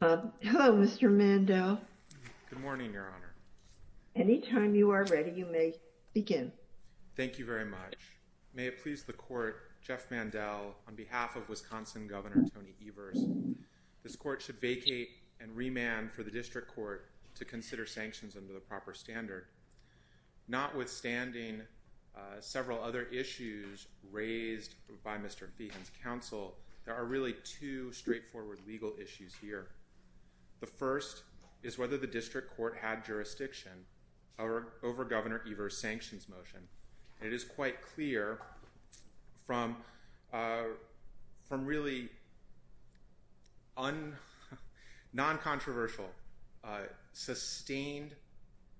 Hello, Mr. Mandel. Good morning, Your Honor. Anytime you are ready, you may begin. Thank you very much, Mrs. Feehan, for the opportunity to speak with you today. Thank you very much. May it please the Court, Jeff Mandel, on behalf of Wisconsin Governor Tony Evers, this Court should vacate and remand for the District Court to consider sanctions under the proper standard. Notwithstanding several other issues raised by Mr. Feehan's counsel, there are really two straightforward legal issues here. The first is whether the District Court had jurisdiction over Governor Evers' sanctions motion. It is quite clear from really non-controversial, sustained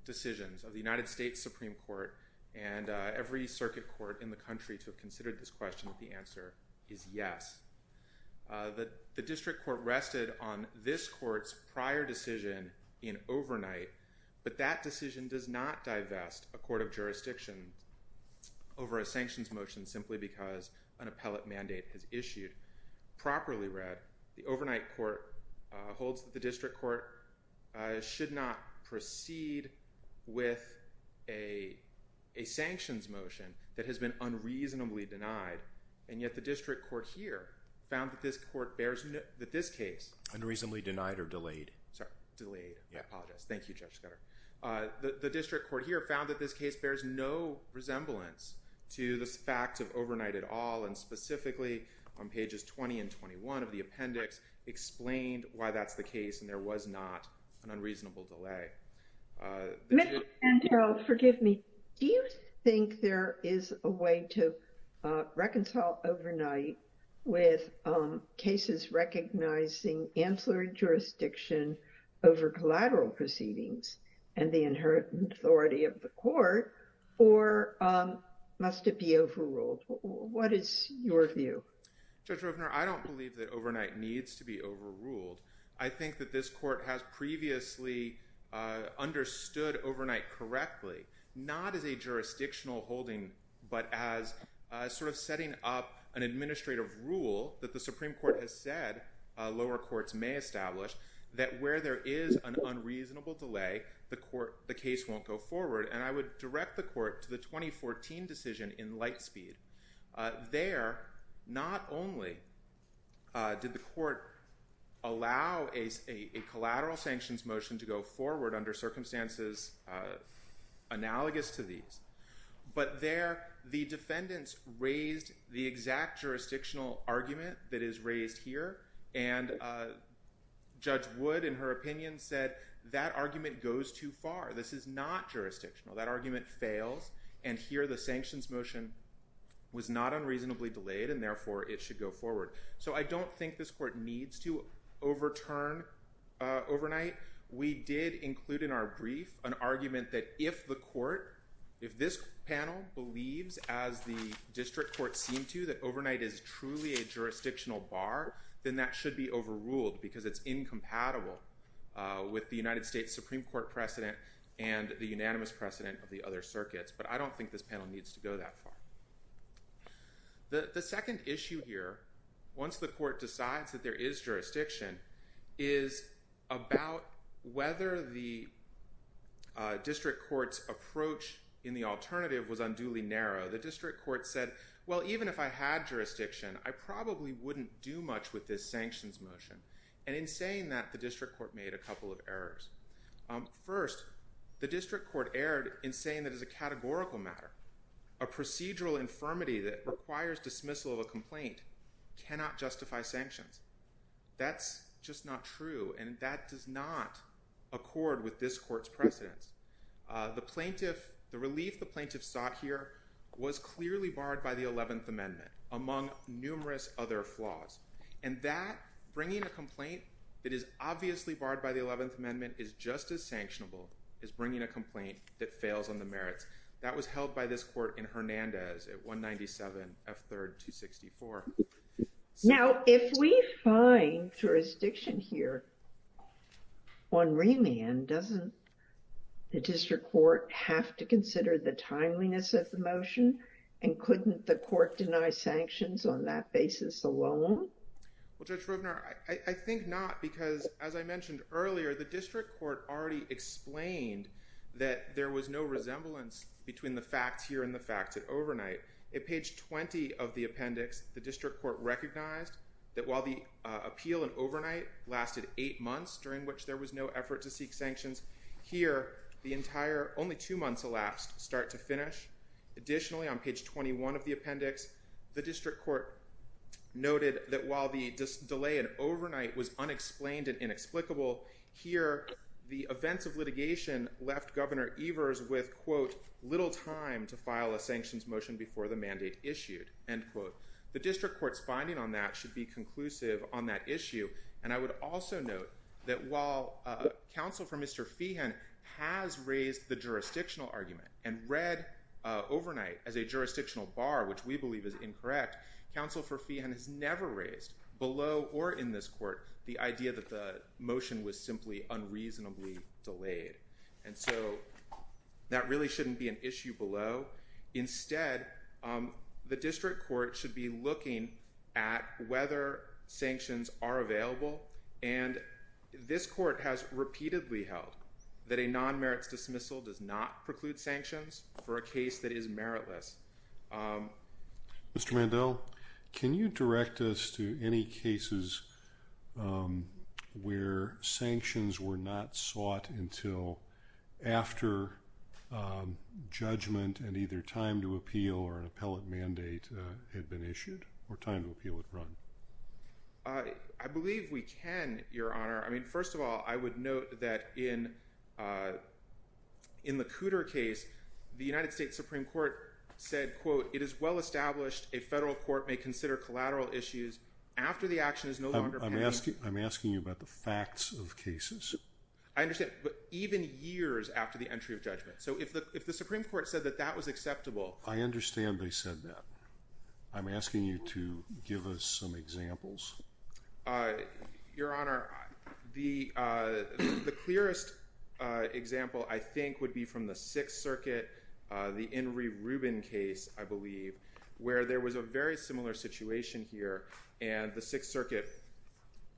decisions of the United States Supreme Court and every circuit court in the country to have considered this question that the answer is yes. The District Court rested on this Court's prior decision in overnight, but that decision does not divest a court of jurisdiction over a sanctions motion simply because an appellate mandate is issued. Properly read, the overnight Court holds that the District Court should not proceed with a sanctions motion that has been unreasonably denied, and yet the District Court here found that this case bears no resemblance to the fact of overnight at all, and specifically on pages 20 and 21 of the appendix explained why that's the case and there was not an unreasonable delay. Mr. Santoro, forgive me. Do you think there is a way to reconcile overnight with cases recognizing ancillary jurisdiction over collateral proceedings and the inherent authority of the court, or must it be overruled? What is your view? Judge Rovner, I don't believe that overnight needs to be overruled. I think that this Court has previously understood overnight correctly, not as a jurisdictional holding, but as sort of setting up an administrative rule that the Supreme Court has said lower courts may establish that where there is an unreasonable delay, the case won't go forward, and I would direct the Court to the 2014 decision in Lightspeed. There, not only did the Court allow a collateral sanctions motion to go forward under circumstances analogous to these, but there the defendants raised the exact jurisdictional argument that is raised here, and Judge Wood, in her opinion, said that argument goes too far. This is not jurisdictional. That argument fails, and here the sanctions motion was not unreasonably delayed, and therefore it should go forward. So I don't think this Court needs to overturn overnight. We did include in our brief an argument that if the Court, if this panel believes, as the district courts seem to, that overnight is truly a jurisdictional bar, then that should be overruled because it's incompatible with the United States Supreme Court precedent and the unanimous precedent of the other circuits, but I don't think this panel needs to go that far. The second issue here, once the Court decides that there is jurisdiction, is about whether the district court's approach in the alternative was unduly narrow. The district court said, well, even if I had jurisdiction, I probably wouldn't do much with this sanctions motion, and in saying that, the district court made a couple of errors. First, the district court erred in saying that as a categorical matter, a procedural infirmity that requires dismissal of a complaint cannot justify sanctions. That's just not true, and that does not accord with this Court's precedence. The plaintiff, the relief the plaintiff sought here was clearly barred by the 11th Amendment, among numerous other flaws, and that, bringing a complaint that is obviously barred by the 11th Amendment is just as sanctionable as bringing a complaint that fails on the merits. That was held by this Court in Hernandez at 197 F3rd 264. Now, if we find jurisdiction here on remand, doesn't the district court have to consider the timeliness of the motion, and couldn't the court deny sanctions on that basis alone? Well, Judge Rovner, I think not, because as I mentioned earlier, the district court already explained that there was no resemblance between the facts here and the facts at overnight. At page 20 of the appendix, the district court recognized that while the appeal at overnight lasted eight months, during which there was no effort to seek sanctions, here, the entire, only two months elapsed, start to finish. Additionally, on page 21 of the appendix, the district court noted that while the delay at overnight was unexplained and inexplicable, here, the events of litigation left Governor Evers with, quote, little time to file a sanctions motion before the mandate issued, end quote. The district court's finding on that should be conclusive on that issue, and I would also note that while counsel for Mr. Feehan has raised the jurisdictional argument and read overnight as a jurisdictional bar, which we believe is incorrect, counsel for Feehan has never raised, below or in this court, the idea that the motion was simply unreasonably delayed. And so, that really shouldn't be an issue below. Instead, the district court should be looking at whether sanctions are available, and this court has repeatedly held that a non-merits dismissal does not preclude sanctions for a case that is meritless. Mr. Mandel, can you direct us to any cases where sanctions were not sought until after judgment and either time to appeal or an appellate mandate had been issued or time to appeal had run? I believe we can, Your Honor. I mean, first of all, I would note that in the Cooter case, the United States Supreme Court said, quote, it is well established a federal court may consider collateral issues after the action is no longer pending. I'm asking you about the facts of cases. I understand, but even years after the entry of judgment. So, if the Supreme Court said that that was acceptable. I understand they said that. I'm asking you to give us some examples. Your Honor, the clearest example, I think, would be from the Sixth Circuit, the Henry Rubin case, I believe, where there was a very similar situation here. And the Sixth Circuit,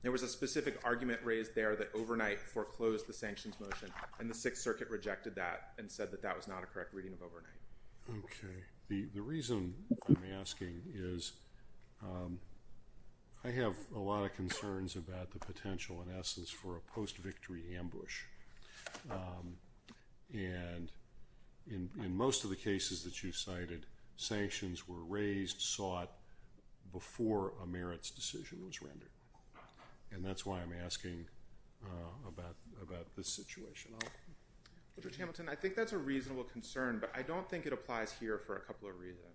there was a specific argument raised there that overnight foreclosed the sanctions motion, and the Sixth Circuit rejected that and said that that was not a correct reading of overnight. Okay. The reason I'm asking is I have a lot of concerns about the potential, in essence, for a post-victory ambush. And in most of the cases that you cited, sanctions were raised, sought, before a merits decision was rendered. And that's why I'm asking about this situation. Judge Hamilton, I think that's a reasonable concern, but I don't think it applies here for a couple of reasons.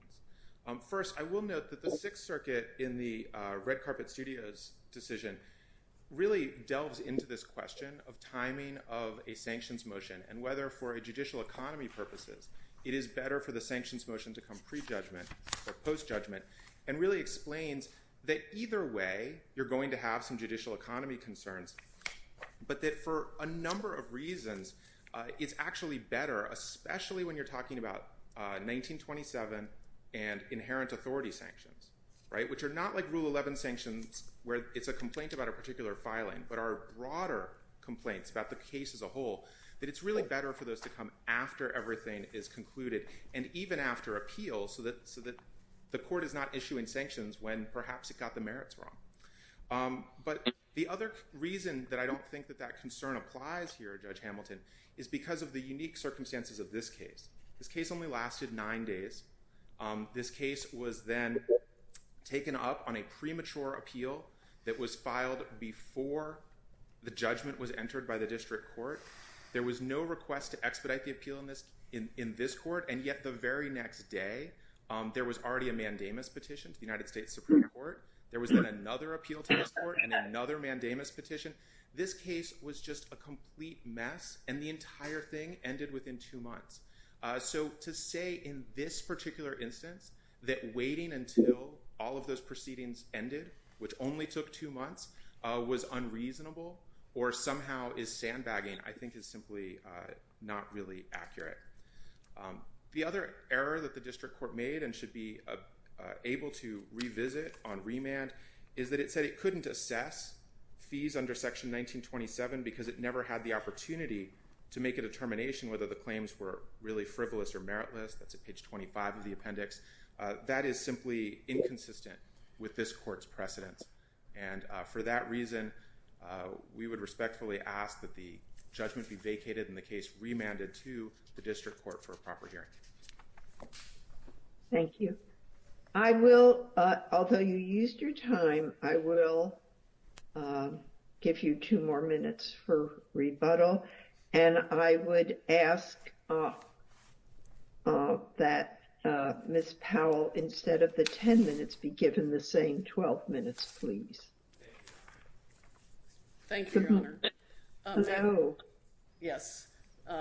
First, I will note that the Sixth Circuit, in the Red Carpet Studios decision, really delves into this question of timing of a sanctions motion and whether, for judicial economy purposes, it is better for the sanctions motion to come pre-judgment or post-judgment. And really explains that either way, you're going to have some judicial economy concerns, but that for a number of reasons, it's actually better, especially when you're talking about 1927 and inherent authority sanctions, right? Which are not like Rule 11 sanctions, where it's a complaint about a particular filing, but are broader complaints about the case as a whole, that it's really better for those to come after everything is concluded, and even after appeals, so that the court is not issuing sanctions when perhaps it got the merits wrong. But the other reason that I don't think that that concern applies here, Judge Hamilton, is because of the unique circumstances of this case. This case only lasted nine days. This case was then taken up on a premature appeal that was filed before the judgment was entered by the district court. There was no request to expedite the appeal in this court, and yet the very next day, there was already a mandamus petition to the United States Supreme Court. There was then another appeal to this court and another mandamus petition. This case was just a complete mess, and the entire thing ended within two months. So to say in this particular instance that waiting until all of those proceedings ended, which only took two months, was unreasonable or somehow is sandbagging, I think is simply not really accurate. The other error that the district court made and should be able to revisit on remand is that it said it couldn't assess fees under Section 1927 because it never had the opportunity to make a determination whether the claims were really frivolous or meritless. That's at page 25 of the appendix. That is simply inconsistent with this court's precedence. And for that reason, we would respectfully ask that the judgment be vacated and the case remanded to the district court for a proper hearing. Thank you. I will, although you used your time, I will give you two more minutes for rebuttal. And I would ask that Ms. Powell, instead of the 10 minutes, be given the same 12 minutes, please. Thank you, Your Honor. Hello. Yes.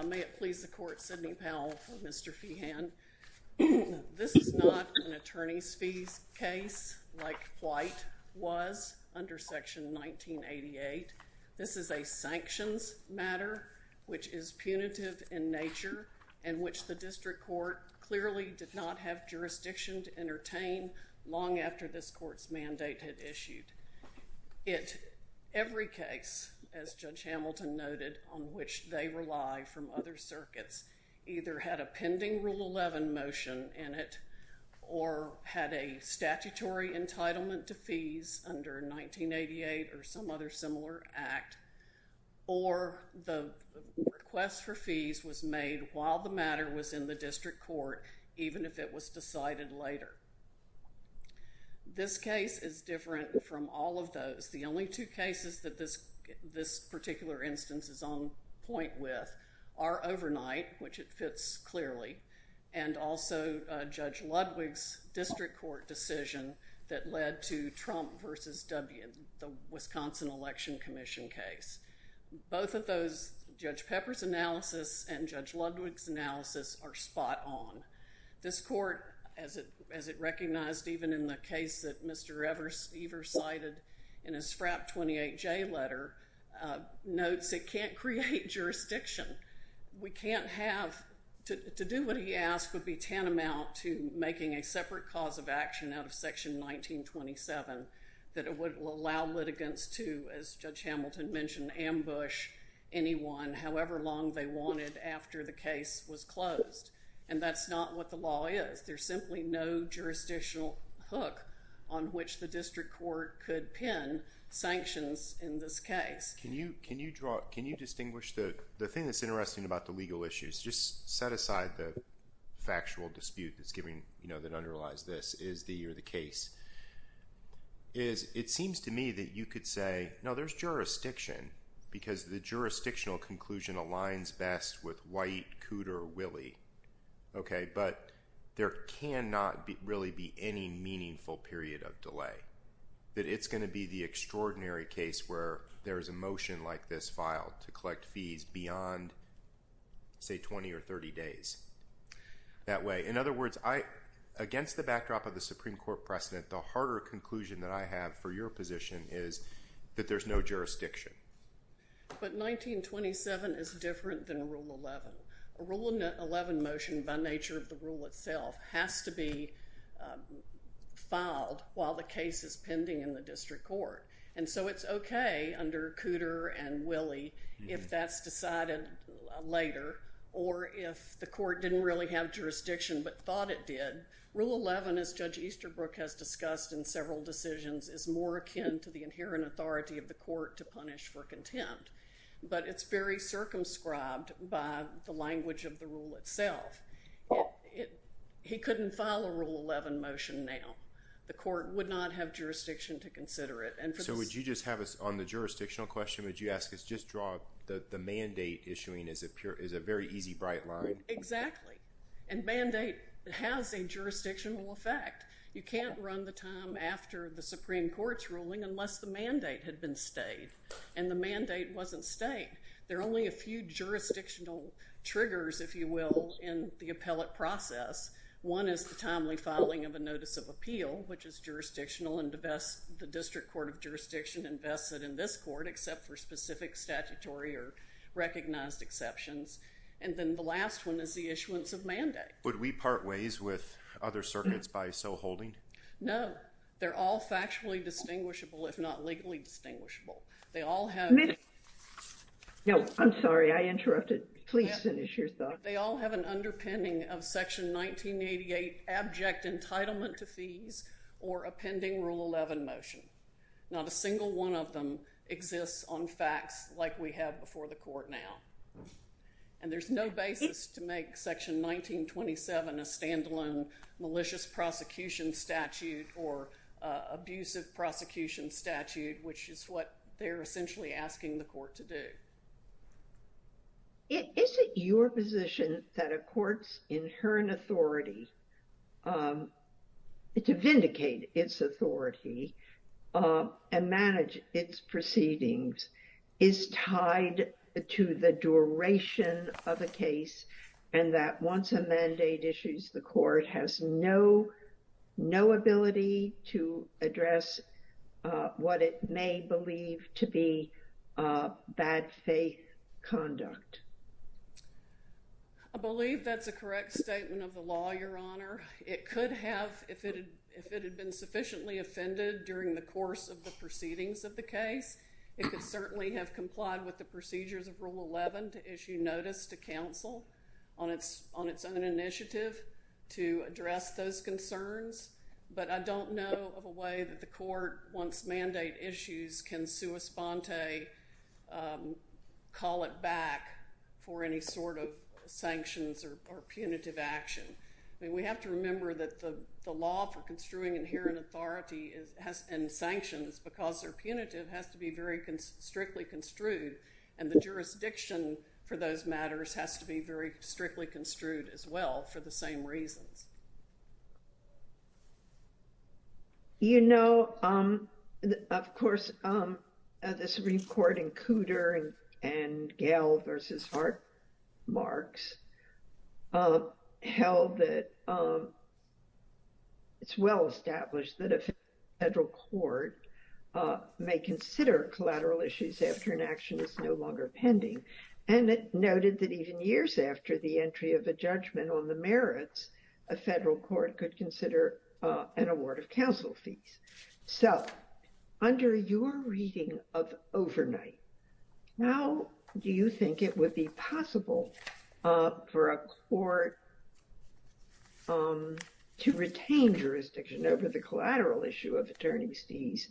May it please the court, Sidney Powell for Mr. Feehan. This is not an attorney's fees case like White was under Section 1988. This is a sanctions matter which is punitive in nature and which the district court clearly did not have jurisdiction to entertain long after this court's mandate had issued. Every case, as Judge Hamilton noted, on which they rely from other circuits either had a pending Rule 11 motion in it or had a statutory entitlement to fees under 1988 or some other similar act, or the request for fees was made while the matter was in the district court, even if it was decided later. This case is different from all of those. The only two cases that this particular instance is on point with are overnight, which it fits clearly, and also Judge Ludwig's district court decision that led to Trump versus W, the Wisconsin Election Commission case. Both of those, Judge Pepper's analysis and Judge Ludwig's analysis, are spot on. This court, as it recognized even in the case that Mr. Evers cited in his FRAP 28J letter, notes it can't create jurisdiction. We can't have—to do what he asked would be tantamount to making a separate cause of action out of Section 1927 that would allow litigants to, as Judge Hamilton mentioned, ambush anyone however long they wanted after the case was closed. And that's not what the law is. There's simply no jurisdictional hook on which the district court could pin sanctions in this case. Can you draw—can you distinguish the—the thing that's interesting about the legal issues, just set aside the factual dispute that's giving—you know, that underlies this, is the—or the case, is it seems to me that you could say, no, there's jurisdiction because the jurisdictional conclusion aligns best with White, Cooter, Willey. Okay, but there cannot really be any meaningful period of delay. That it's going to be the extraordinary case where there is a motion like this filed to collect fees beyond, say, 20 or 30 days. That way. In other words, I—against the backdrop of the Supreme Court precedent, the harder conclusion that I have for your position is that there's no jurisdiction. But 1927 is different than Rule 11. Rule 11 motion, by nature of the rule itself, has to be filed while the case is pending in the district court. And so it's okay under Cooter and Willey if that's decided later or if the court didn't really have jurisdiction but thought it did. Rule 11, as Judge Easterbrook has discussed in several decisions, is more akin to the inherent authority of the court to punish for contempt. But it's very circumscribed by the language of the rule itself. He couldn't file a Rule 11 motion now. The court would not have jurisdiction to consider it. So would you just have us—on the jurisdictional question, would you ask us just draw—the mandate issuing is a very easy, bright line. Exactly. And mandate has a jurisdictional effect. You can't run the time after the Supreme Court's ruling unless the mandate had been stayed. And the mandate wasn't stayed. There are only a few jurisdictional triggers, if you will, in the appellate process. One is the timely filing of a notice of appeal, which is jurisdictional. And the best—the district court of jurisdiction invests it in this court, except for specific statutory or recognized exceptions. And then the last one is the issuance of mandate. Would we part ways with other circuits by so holding? No. They're all factually distinguishable, if not legally distinguishable. They all have— Ms.— No, I'm sorry. I interrupted. Please finish your thought. They all have an underpinning of Section 1988, abject entitlement to fees, or a pending Rule 11 motion. Not a single one of them exists on facts like we have before the court now. And there's no basis to make Section 1927 a standalone malicious prosecution statute or abusive prosecution statute, which is what they're essentially asking the court to do. Is it your position that a court's inherent authority to vindicate its authority and manage its proceedings is tied to the duration of a case, and that once a mandate issues, the court has no ability to address what it may believe to be bad faith conduct? I believe that's a correct statement of the law, Your Honor. It could have, if it had been sufficiently offended during the course of the proceedings of the case. It could certainly have complied with the procedures of Rule 11 to issue notice to counsel on its own initiative to address those concerns. But I don't know of a way that the court, once mandate issues, can sua sponte call it back for any sort of sanctions or punitive action. I mean, we have to remember that the law for construing inherent authority and sanctions, because they're punitive, has to be very strictly construed. And the jurisdiction for those matters has to be very strictly construed as well for the same reasons. You know, of course, the Supreme Court in Cooter and Gale versus Hartmarks held that it's well established that a federal court may consider collateral issues after an action is no longer pending. And it noted that even years after the entry of a judgment on the merits, a federal court could consider an award of counsel fees. So under your reading of overnight, how do you think it would be possible for a court to retain jurisdiction over the collateral issue of attorney's fees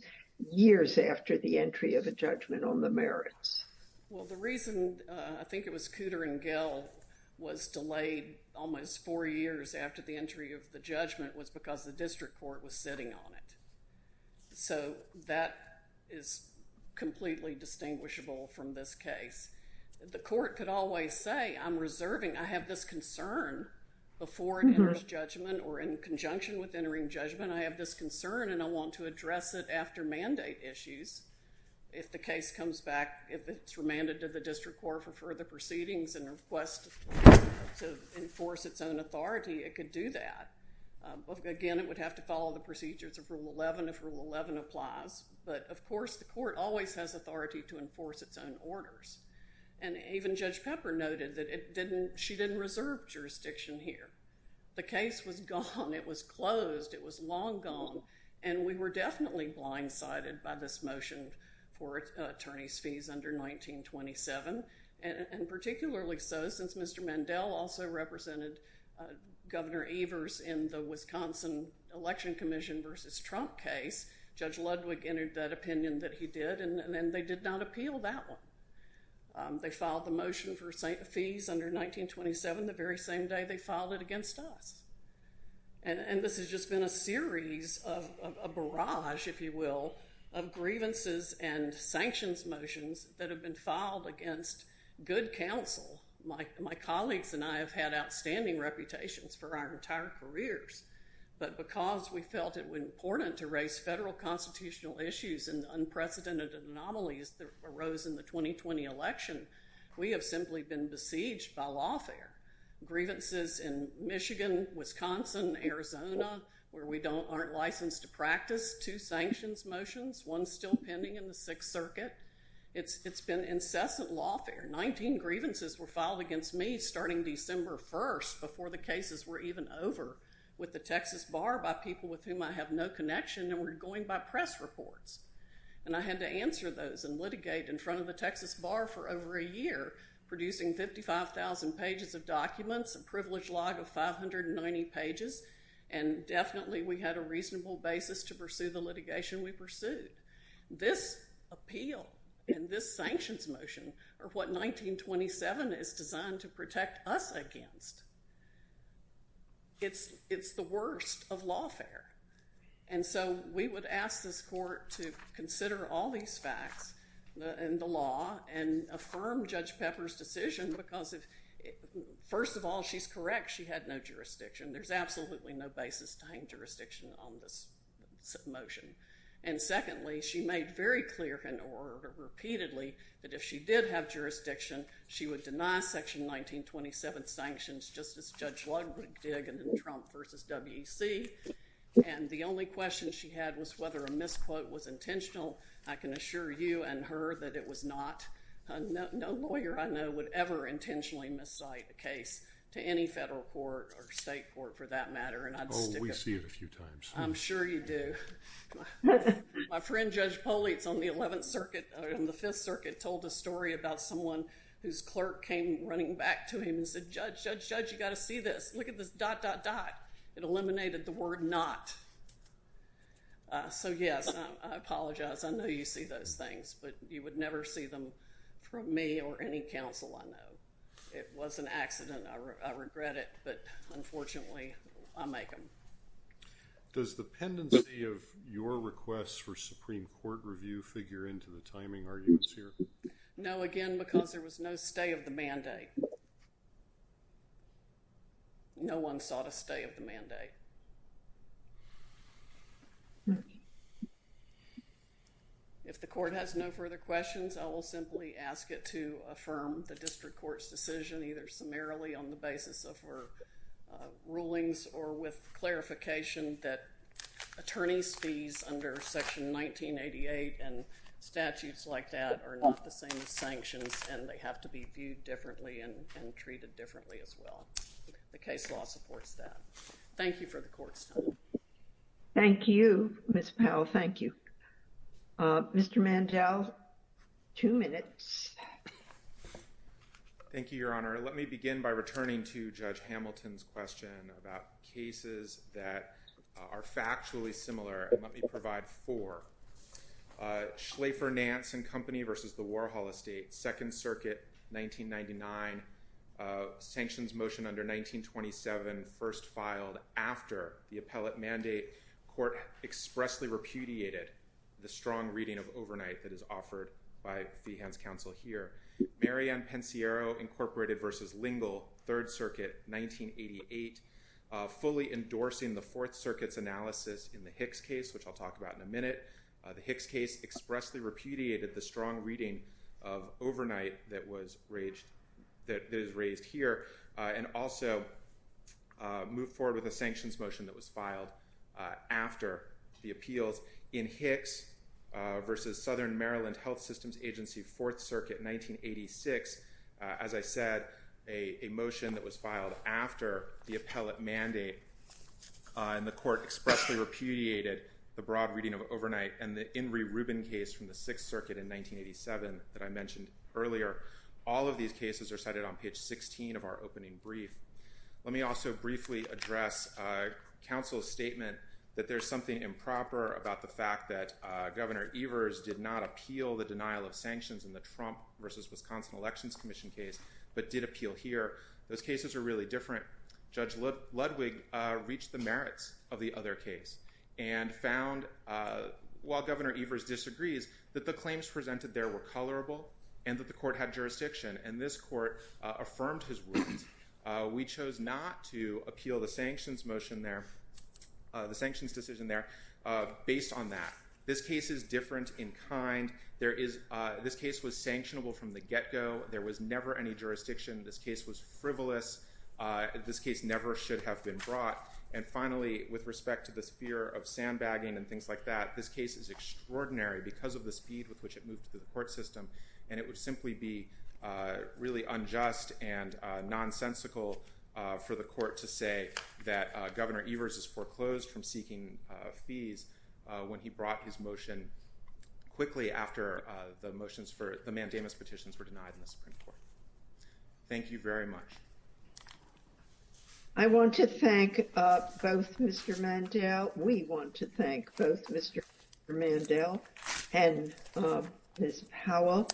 years after the entry of a judgment on the merits? Well, the reason I think it was Cooter and Gale was delayed almost four years after the entry of the judgment was because the district court was sitting on it. So that is completely distinguishable from this case. The court could always say, I'm reserving, I have this concern before it enters judgment or in conjunction with entering judgment, I have this concern and I want to address it after mandate issues. If the case comes back, if it's remanded to the district court for further proceedings and requests to enforce its own authority, it could do that. Again, it would have to follow the procedures of Rule 11 if Rule 11 applies. But of course, the court always has authority to enforce its own orders. And even Judge Pepper noted that she didn't reserve jurisdiction here. The case was gone. It was closed. It was long gone. And we were definitely blindsided by this motion for attorney's fees under 1927. And particularly so since Mr. Mandel also represented Governor Evers in the Wisconsin Election Commission versus Trump case, Judge Ludwig entered that opinion that he did. And they did not appeal that one. They filed the motion for fees under 1927 the very same day they filed it against us. And this has just been a series of a barrage, if you will, of grievances and sanctions motions that have been filed against good counsel. My colleagues and I have had outstanding reputations for our entire careers. But because we felt it was important to raise federal constitutional issues and unprecedented anomalies that arose in the 2020 election, we have simply been besieged by lawfare. Grievances in Michigan, Wisconsin, Arizona, where we aren't licensed to practice, two sanctions motions, one still pending in the Sixth Circuit. It's been incessant lawfare. Nineteen grievances were filed against me starting December 1st before the cases were even over with the Texas Bar by people with whom I have no connection and were going by press reports. And I had to answer those and litigate in front of the Texas Bar for over a year, producing 55,000 pages of documents, a privilege log of 590 pages. And definitely we had a reasonable basis to pursue the litigation we pursued. This appeal and this sanctions motion are what 1927 is designed to protect us against. It's the worst of lawfare. And so we would ask this court to consider all these facts in the law and affirm Judge Pepper's decision because, first of all, she's correct. She had no jurisdiction. There's absolutely no basis to hang jurisdiction on this motion. And secondly, she made very clear and repeatedly that if she did have jurisdiction, she would deny Section 1927 sanctions just as Judge Ludwig did in the Trump v. WEC. And the only question she had was whether a misquote was intentional. I can assure you and her that it was not. No lawyer I know would ever intentionally miscite a case to any federal court or state court for that matter. And I'd stick it— Oh, we see it a few times. I'm sure you do. My friend Judge Politz on the 11th Circuit, on the 5th Circuit, told a story about someone whose clerk came running back to him and said, Judge, Judge, Judge, you've got to see this. Look at this dot, dot, dot. It eliminated the word not. So, yes, I apologize. I know you see those things, but you would never see them from me or any counsel I know. It was an accident. I regret it. But, unfortunately, I make them. Does the pendency of your request for Supreme Court review figure into the timing arguments here? No, again, because there was no stay of the mandate. No one sought a stay of the mandate. If the court has no further questions, I will simply ask it to affirm the district court's decision, either summarily on the basis of her rulings or with clarification that attorney's fees under Section 1988 and statutes like that are not the same as sanctions and they have to be viewed differently and treated differently as well. The case law supports that. Thank you for the court's time. Thank you, Ms. Powell. Thank you. Mr. Mandel, two minutes. Thank you, Your Honor. Let me begin by returning to Judge Hamilton's question about cases that are factually similar. Let me provide four. Schlafer, Nance & Company v. The Warhol Estate, Second Circuit, 1999, sanctions motion under 1927, first filed after the appellate mandate. Court expressly repudiated the strong reading of overnight that is offered by Feehands' counsel here. Marianne Pensiero, Incorporated v. Lingle, Third Circuit, 1988, fully endorsing the Fourth Circuit's analysis in the Hicks case, which I'll talk about in a minute. The Hicks case expressly repudiated the strong reading of overnight that is raised here and also moved forward with a sanctions motion that was filed after the appeals. In Hicks v. Southern Maryland Health Systems Agency, Fourth Circuit, 1986, as I said, a motion that was filed after the appellate mandate, and the court expressly repudiated the broad reading of overnight and the Inree Rubin case from the Sixth Circuit in 1987 that I mentioned earlier. All of these cases are cited on page 16 of our opening brief. Let me also briefly address counsel's statement that there's something improper about the fact that Governor Evers did not appeal the denial of sanctions in the Trump v. Wisconsin Elections Commission case but did appeal here. Those cases are really different. Judge Ludwig reached the merits of the other case and found, while Governor Evers disagrees, that the claims presented there were colorable and that the court had jurisdiction, and this court affirmed his rules. We chose not to appeal the sanctions decision there based on that. This case is different in kind. This case was sanctionable from the get-go. There was never any jurisdiction. This case was frivolous. This case never should have been brought. And finally, with respect to this fear of sandbagging and things like that, this case is extraordinary because of the speed with which it moved through the court system, and it would simply be really unjust and nonsensical for the court to say that Governor Evers is foreclosed from seeking fees when he brought his motion quickly after the motions for the mandamus petitions were denied in the Supreme Court. Thank you very much. I want to thank both Mr. Mandel. We want to thank both Mr. Mandel and Ms. Powell.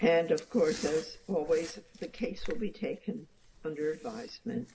And of course, as always, the case will be taken under advisement.